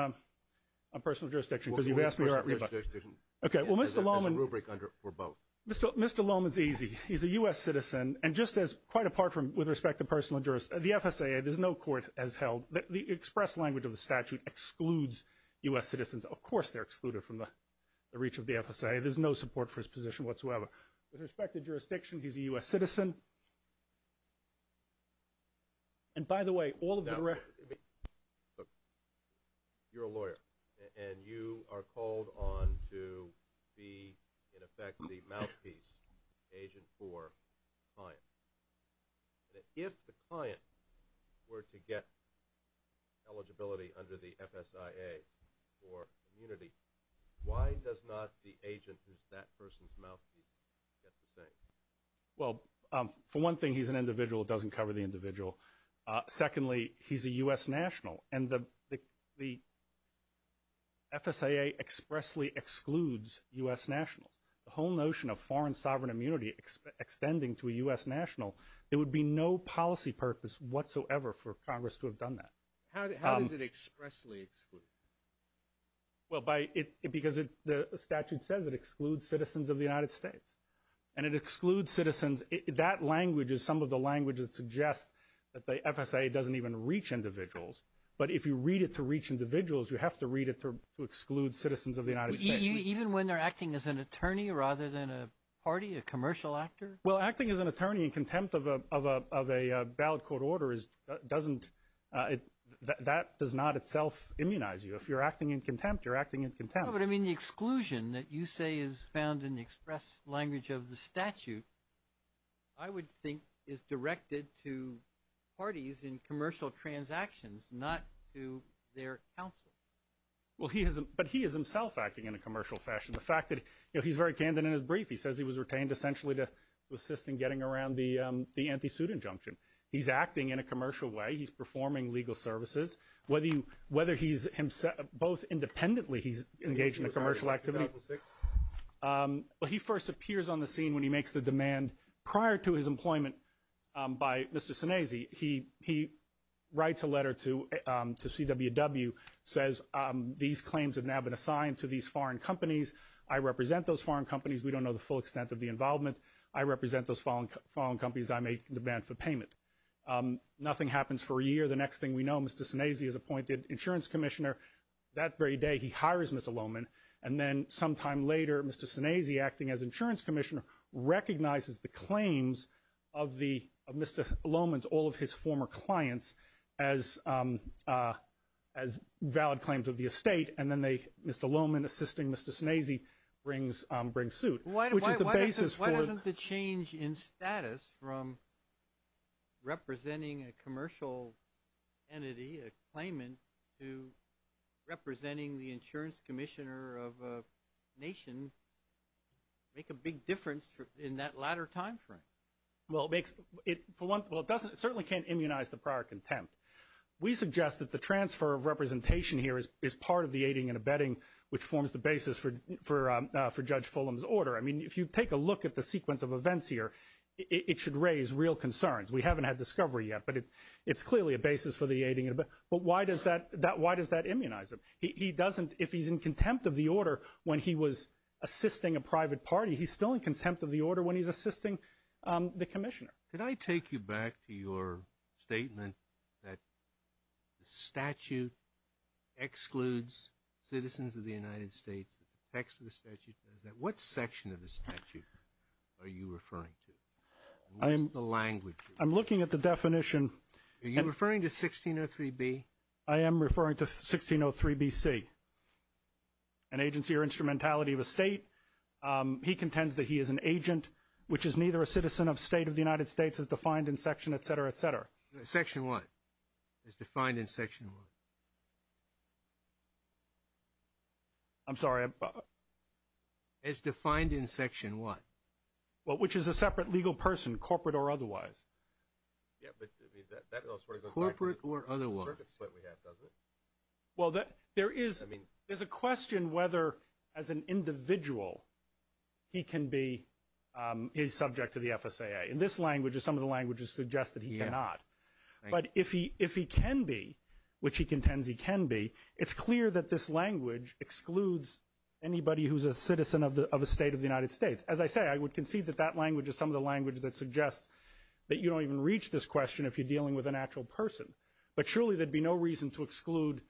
personal jurisdiction? Because you've asked me already about it. Okay, well, Mr. Lohman ‑‑ There's a rubric for both. Mr. Lohman is easy. He's a U.S. citizen. And just as, quite apart from, with respect to personal jurisdiction, the FSAA, there's no court as held. The express language of the statute excludes U.S. citizens. Of course they're excluded from the reach of the FSAA. There's no support for his position whatsoever. With respect to jurisdiction, he's a U.S. citizen. And by the way, all of the ‑‑ Look, you're a lawyer. And you are called on to be, in effect, the mouthpiece agent for a client. If the client were to get eligibility under the FSAA for immunity, why does not the agent who's that person's mouthpiece get the same? Well, for one thing, he's an individual. It doesn't cover the individual. Secondly, he's a U.S. national. And the FSAA expressly excludes U.S. nationals. The whole notion of foreign sovereign immunity extending to a U.S. national, there would be no policy purpose whatsoever for Congress to have done that. How does it expressly exclude? Well, because the statute says it excludes citizens of the United States. And it excludes citizens. That language is some of the language that suggests that the FSAA doesn't even reach individuals. But if you read it to reach individuals, you have to read it to exclude citizens of the United States. Even when they're acting as an attorney rather than a party, a commercial actor? Well, acting as an attorney in contempt of a ballot court order doesn't ‑‑ that does not itself immunize you. If you're acting in contempt, you're acting in contempt. But, I mean, the exclusion that you say is found in the express language of the statute, I would think is directed to parties in commercial transactions, not to their counsel. But he is himself acting in a commercial fashion. The fact that he's very candid in his brief. He says he was retained essentially to assist in getting around the anti‑suit injunction. He's acting in a commercial way. He's performing legal services. Whether he's ‑‑ both independently he's engaged in a commercial activity. Well, he first appears on the scene when he makes the demand prior to his employment by Mr. Sinese. He writes a letter to CWW, says these claims have now been assigned to these foreign companies. I represent those foreign companies. We don't know the full extent of the involvement. I represent those foreign companies. I make the demand for payment. Nothing happens for a year. The next thing we know, Mr. Sinese is appointed insurance commissioner. That very day he hires Mr. Lohman. And then sometime later, Mr. Sinese, acting as insurance commissioner, recognizes the claims of Mr. Lohman's, all of his former clients, as valid claims of the estate. And then Mr. Lohman, assisting Mr. Sinese, brings suit. Why doesn't the change in status from representing a commercial entity, a claimant, to representing the insurance commissioner of a nation make a big difference in that latter timeframe? Well, it certainly can't immunize the prior contempt. We suggest that the transfer of representation here is part of the aiding and abetting, which forms the basis for Judge Fulham's order. I mean, if you take a look at the sequence of events here, it should raise real concerns. We haven't had discovery yet, but it's clearly a basis for the aiding and abetting. But why does that immunize him? If he's in contempt of the order when he was assisting a private party, he's still in contempt of the order when he's assisting the commissioner. Could I take you back to your statement that the statute excludes citizens of the United States? The text of the statute says that. What section of the statute are you referring to? What's the language? I'm looking at the definition. Are you referring to 1603B? I am referring to 1603BC, an agency or instrumentality of a state. He contends that he is an agent, which is neither a citizen of state of the United States, as defined in section, et cetera, et cetera. Section what? As defined in section what? I'm sorry. As defined in section what? Well, which is a separate legal person, corporate or otherwise. Yeah, but that sort of goes back to the circuit split we had, doesn't it? Well, there is a question whether, as an individual, he can be subject to the FSAA. In this language, as some of the languages suggest, that he cannot. But if he can be, which he contends he can be, it's clear that this language excludes anybody who's a citizen of a state of the United States. As I say, I would concede that that language is some of the language that suggests that you don't even reach this question if you're dealing with an actual person. But surely there'd be no reason to exclude,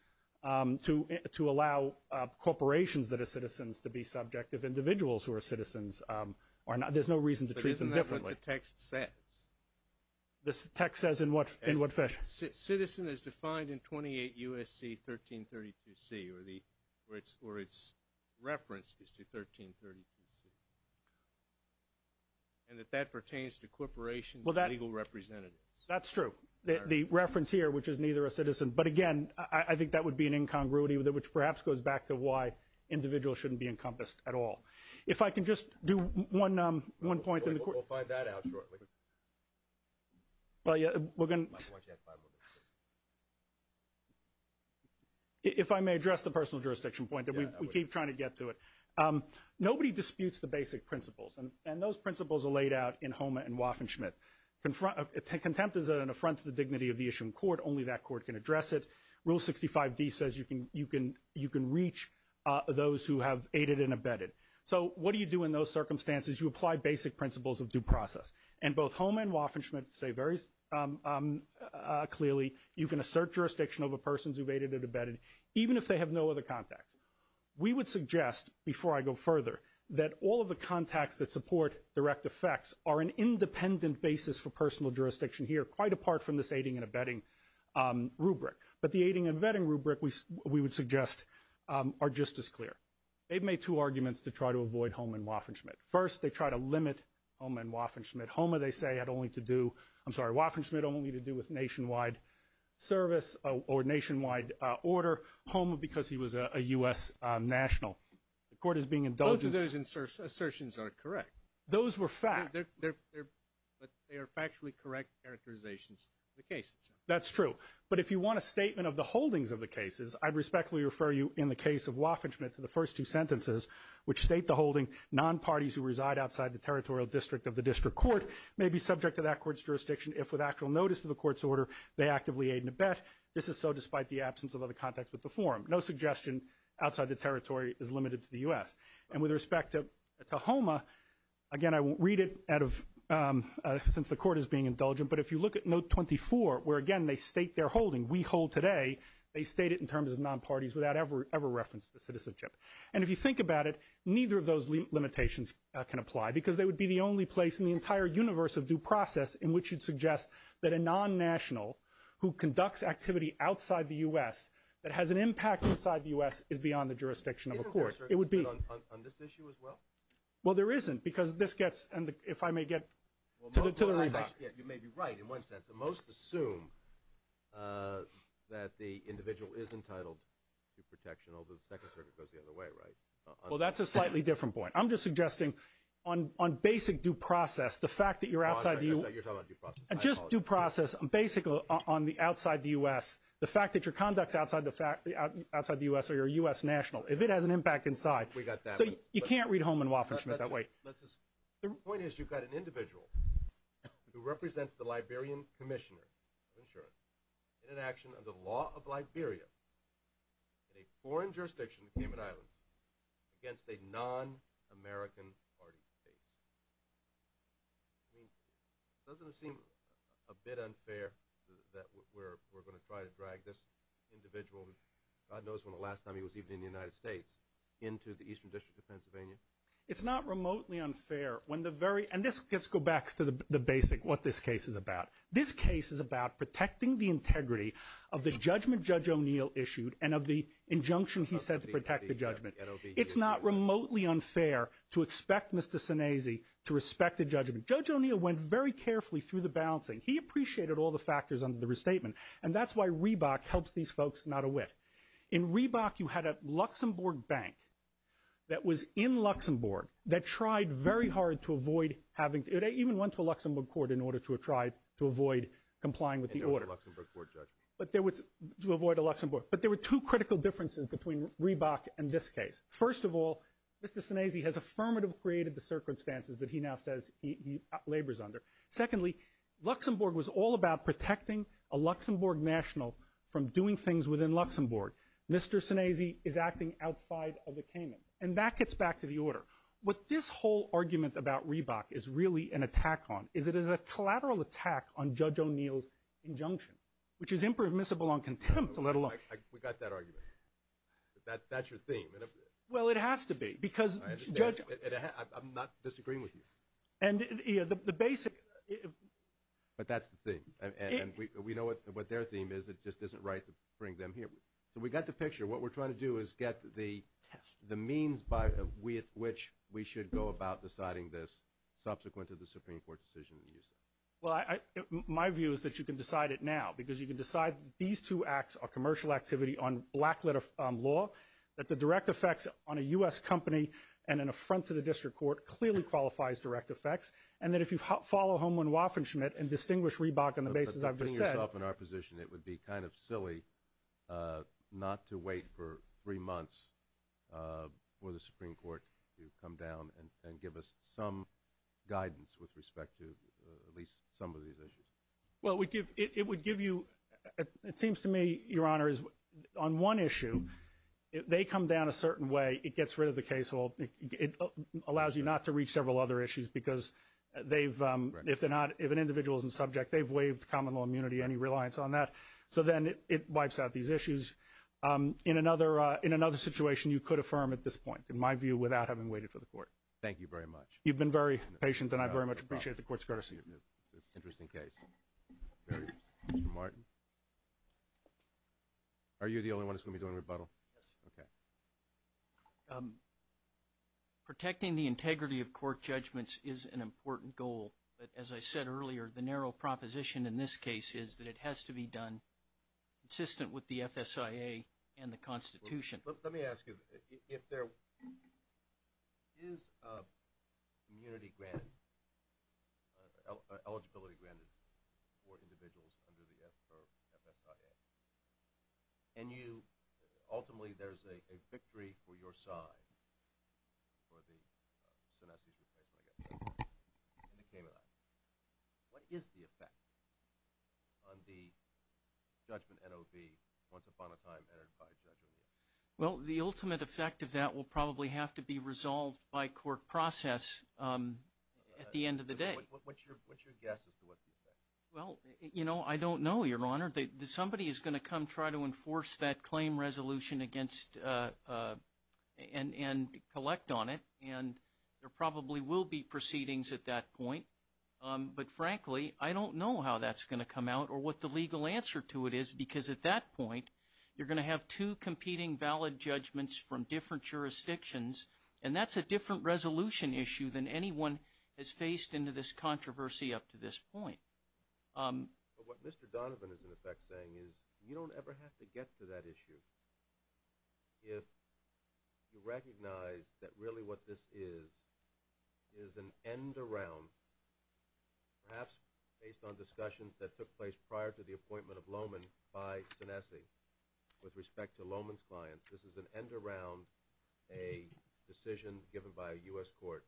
to allow corporations that are citizens to be subject of individuals who are citizens. There's no reason to treat them differently. But isn't that what the text says? The text says in what fashion? Citizen is defined in 28 U.S.C. 1332C, or its reference is to 1332C, and that that pertains to corporations and legal representatives. That's true. The reference here, which is neither a citizen. But again, I think that would be an incongruity, which perhaps goes back to why individuals shouldn't be encompassed at all. If I can just do one point. We'll find that out shortly. If I may address the personal jurisdiction point. We keep trying to get to it. Nobody disputes the basic principles, and those principles are laid out in Homa and Waffen-Schmidt. Contempt is an affront to the dignity of the issue in court. Only that court can address it. Rule 65D says you can reach those who have aided and abetted. So what do you do in those circumstances? You apply basic principles of due process. And both Homa and Waffen-Schmidt say very clearly, you can assert jurisdiction over persons who've aided and abetted, even if they have no other contacts. We would suggest, before I go further, that all of the contacts that support direct effects are an independent basis for personal jurisdiction here, quite apart from this aiding and abetting rubric. But the aiding and abetting rubric, we would suggest, are just as clear. They've made two arguments to try to avoid Homa and Waffen-Schmidt. First, they try to limit Homa and Waffen-Schmidt. Homa, they say, had only to do with nationwide service or nationwide order. Homa, because he was a U.S. national. The court is being indulgent. Both of those assertions are correct. Those were fact. But they are factually correct characterizations of the cases. That's true. But if you want a statement of the holdings of the cases, I'd respectfully refer you in the case of Waffen-Schmidt to the first two sentences, which state the holding non-parties who reside outside the territorial district of the district court may be subject to that court's jurisdiction if, with actual notice of the court's order, they actively aid and abet. This is so despite the absence of other contacts with the forum. No suggestion outside the territory is limited to the U.S. And with respect to Homa, again, I won't read it since the court is being indulgent, but if you look at Note 24 where, again, they state their holding, we hold today, they state it in terms of non-parties without ever reference to the citizenship. And if you think about it, neither of those limitations can apply because they would be the only place in the entire universe of due process in which you'd suggest that a non-national who conducts activity outside the U.S. that has an impact inside the U.S. is beyond the jurisdiction of a court. Isn't there a circuit on this issue as well? Well, there isn't because this gets, if I may get to the remark. You may be right in one sense. Most assume that the individual is entitled to protection, although the Second Circuit goes the other way, right? Well, that's a slightly different point. I'm just suggesting on basic due process, the fact that you're outside the U.S. You're talking about due process? Just due process. On the outside the U.S., the fact that you're conducting outside the U.S. or you're a U.S. national, if it has an impact inside. We got that one. So you can't read Holman, Wofford, Schmidt that way. The point is you've got an individual who represents the Liberian Commissioner of Insurance in an action under the law of Liberia in a foreign jurisdiction, the Cayman Islands, against a non-American party base. I mean, doesn't it seem a bit unfair that we're going to try to drag this individual, God knows when the last time he was even in the United States, into the Eastern District of Pennsylvania? It's not remotely unfair when the very, and let's go back to the basic, what this case is about. This case is about protecting the integrity of the judgment Judge O'Neill issued It's not remotely unfair to expect Mr. Sinese to respect the judgment. Judge O'Neill went very carefully through the balancing. He appreciated all the factors under the restatement. And that's why Reebok helps these folks not a whiff. In Reebok you had a Luxembourg bank that was in Luxembourg that tried very hard to avoid having, it even went to a Luxembourg court in order to try to avoid complying with the order. And there was a Luxembourg court judgment. To avoid a Luxembourg. But there were two critical differences between Reebok and this case. First of all, Mr. Sinese has affirmatively created the circumstances that he now says he labors under. Secondly, Luxembourg was all about protecting a Luxembourg national from doing things within Luxembourg. Mr. Sinese is acting outside of the Caymans. And that gets back to the order. What this whole argument about Reebok is really an attack on, is it is a collateral attack on Judge O'Neill's injunction, which is impermissible on contempt, let alone. We got that argument. That's your theme. Well, it has to be. I'm not disagreeing with you. But that's the thing. And we know what their theme is. It just isn't right to bring them here. So we got the picture. What we're trying to do is get the means by which we should go about deciding this subsequent to the Supreme Court decision. Well, my view is that you can decide it now, because you can decide these two acts are commercial activity on black-lit law, that the direct effects on a U.S. company and an affront to the district court clearly qualifies direct effects, and that if you follow Holman Waffen-Schmidt and distinguish Reebok on the basis I've just said. Putting yourself in our position, it would be kind of silly not to wait for three months for the Supreme Court to come down and give us some guidance with respect to at least some of these issues. Well, it would give you ‑‑ it seems to me, Your Honor, on one issue, if they come down a certain way, it gets rid of the casehold. It allows you not to reach several other issues, because if an individual is in subject, they've waived common law immunity, any reliance on that. So then it wipes out these issues. In another situation, you could affirm at this point, in my view, without having waited for the court. Thank you very much. You've been very patient, and I very much appreciate the court's courtesy. Interesting case. Mr. Martin? Are you the only one that's going to be doing rebuttal? Yes. Okay. Protecting the integrity of court judgments is an important goal. But as I said earlier, the narrow proposition in this case is that it has to be done consistent with the FSIA and the Constitution. Let me ask you, if there is immunity granted, eligibility granted for individuals under the FSIA, and ultimately there's a victory for your side for the Sinestis replacement, I guess, in the Cayman Islands, what is the effect on the judgment NOV, once upon a time entered by Judge O'Neill? Well, the ultimate effect of that will probably have to be resolved by court process at the end of the day. What's your guess as to what the effect is? Well, you know, I don't know, Your Honor. Somebody is going to come try to enforce that claim resolution and collect on it, and there probably will be proceedings at that point. But, frankly, I don't know how that's going to come out or what the legal answer to it is, because at that point you're going to have two competing valid judgments from different jurisdictions, and that's a different resolution issue than anyone has faced in this controversy up to this point. But what Mr. Donovan is, in effect, saying is you don't ever have to get to that issue if you recognize that really what this is is an end around perhaps based on discussions that took place prior to the appointment of Lohman by Sinestis with respect to Lohman's clients. This is an end around a decision given by a U.S. court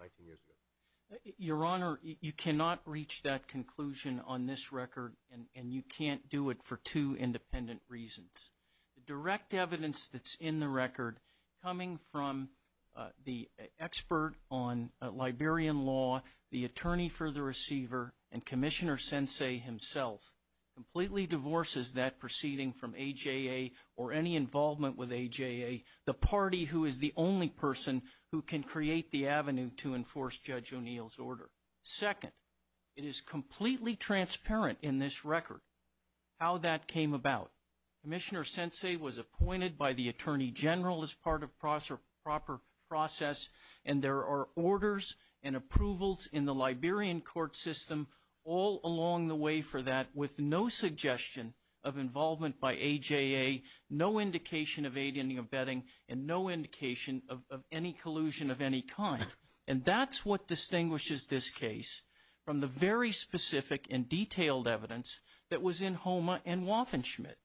19 years ago. Your Honor, you cannot reach that conclusion on this record, and you can't do it for two independent reasons. The direct evidence that's in the record coming from the expert on Liberian law, the attorney for the receiver, and Commissioner Sensei himself completely divorces that proceeding from AJA or any involvement with AJA, the party who is the only person who can create the avenue to enforce Judge O'Neill's order. Second, it is completely transparent in this record how that came about. Commissioner Sensei was appointed by the attorney general as part of proper process, and there are orders and approvals in the Liberian court system all along the way for that with no suggestion of involvement by AJA, no indication of aid in the abetting, and no indication of any collusion of any kind. And that's what distinguishes this case from the very specific and detailed evidence that was in Homa and Waffen-Schmidt.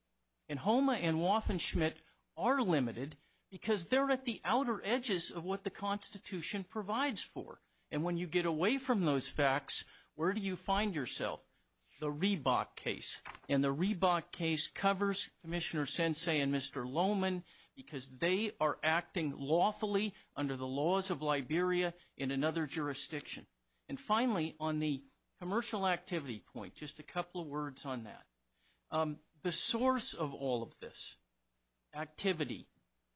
And Homa and Waffen-Schmidt are limited because they're at the outer edges of what the Constitution provides for. And when you get away from those facts, where do you find yourself? The Riebach case, and the Riebach case covers Commissioner Sensei and Mr. Lohmann because they are acting lawfully under the laws of Liberia in another jurisdiction. And finally, on the commercial activity point, just a couple of words on that. The source of all of this activity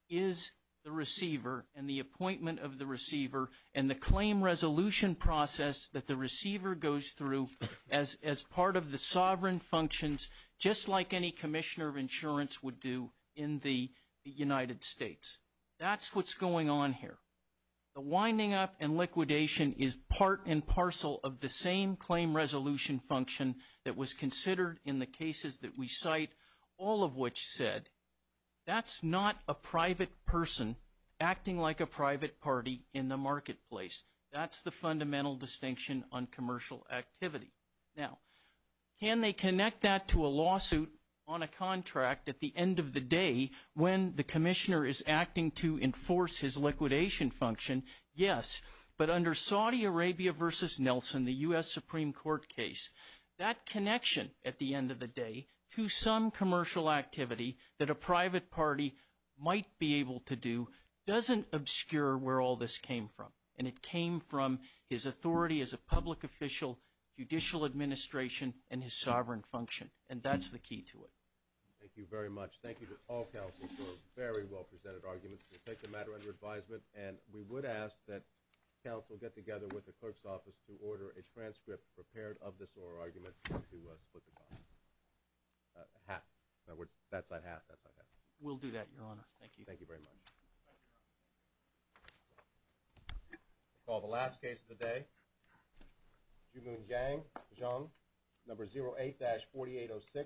is the receiver and the appointment of the receiver and the claim resolution process that the receiver goes through as part of the sovereign functions, just like any commissioner of insurance would do in the United States. That's what's going on here. The winding up and liquidation is part and parcel of the same claim resolution function that was considered in the cases that we cite, all of which said, that's not a private person acting like a private party in the marketplace. That's the fundamental distinction on commercial activity. Now, can they connect that to a lawsuit on a contract at the end of the day when the commissioner is acting to enforce his liquidation function? Yes, but under Saudi Arabia v. Nelson, the U.S. Supreme Court case, that connection at the end of the day to some commercial activity that a private party might be able to do doesn't obscure where all this came from. And it came from his authority as a public official, judicial administration, and his sovereign function. And that's the key to it. Thank you very much. Thank you to all counsel for very well-presented arguments. We'll take the matter under advisement, and we would ask that counsel get together with the clerk's office to order a transcript prepared of this oral argument to split the cost. Half. In other words, that side half, that side half. We'll do that, Your Honor. Thank you. Thank you very much. I call the last case of the day, Jumun Jang, Jung, number 08-4806.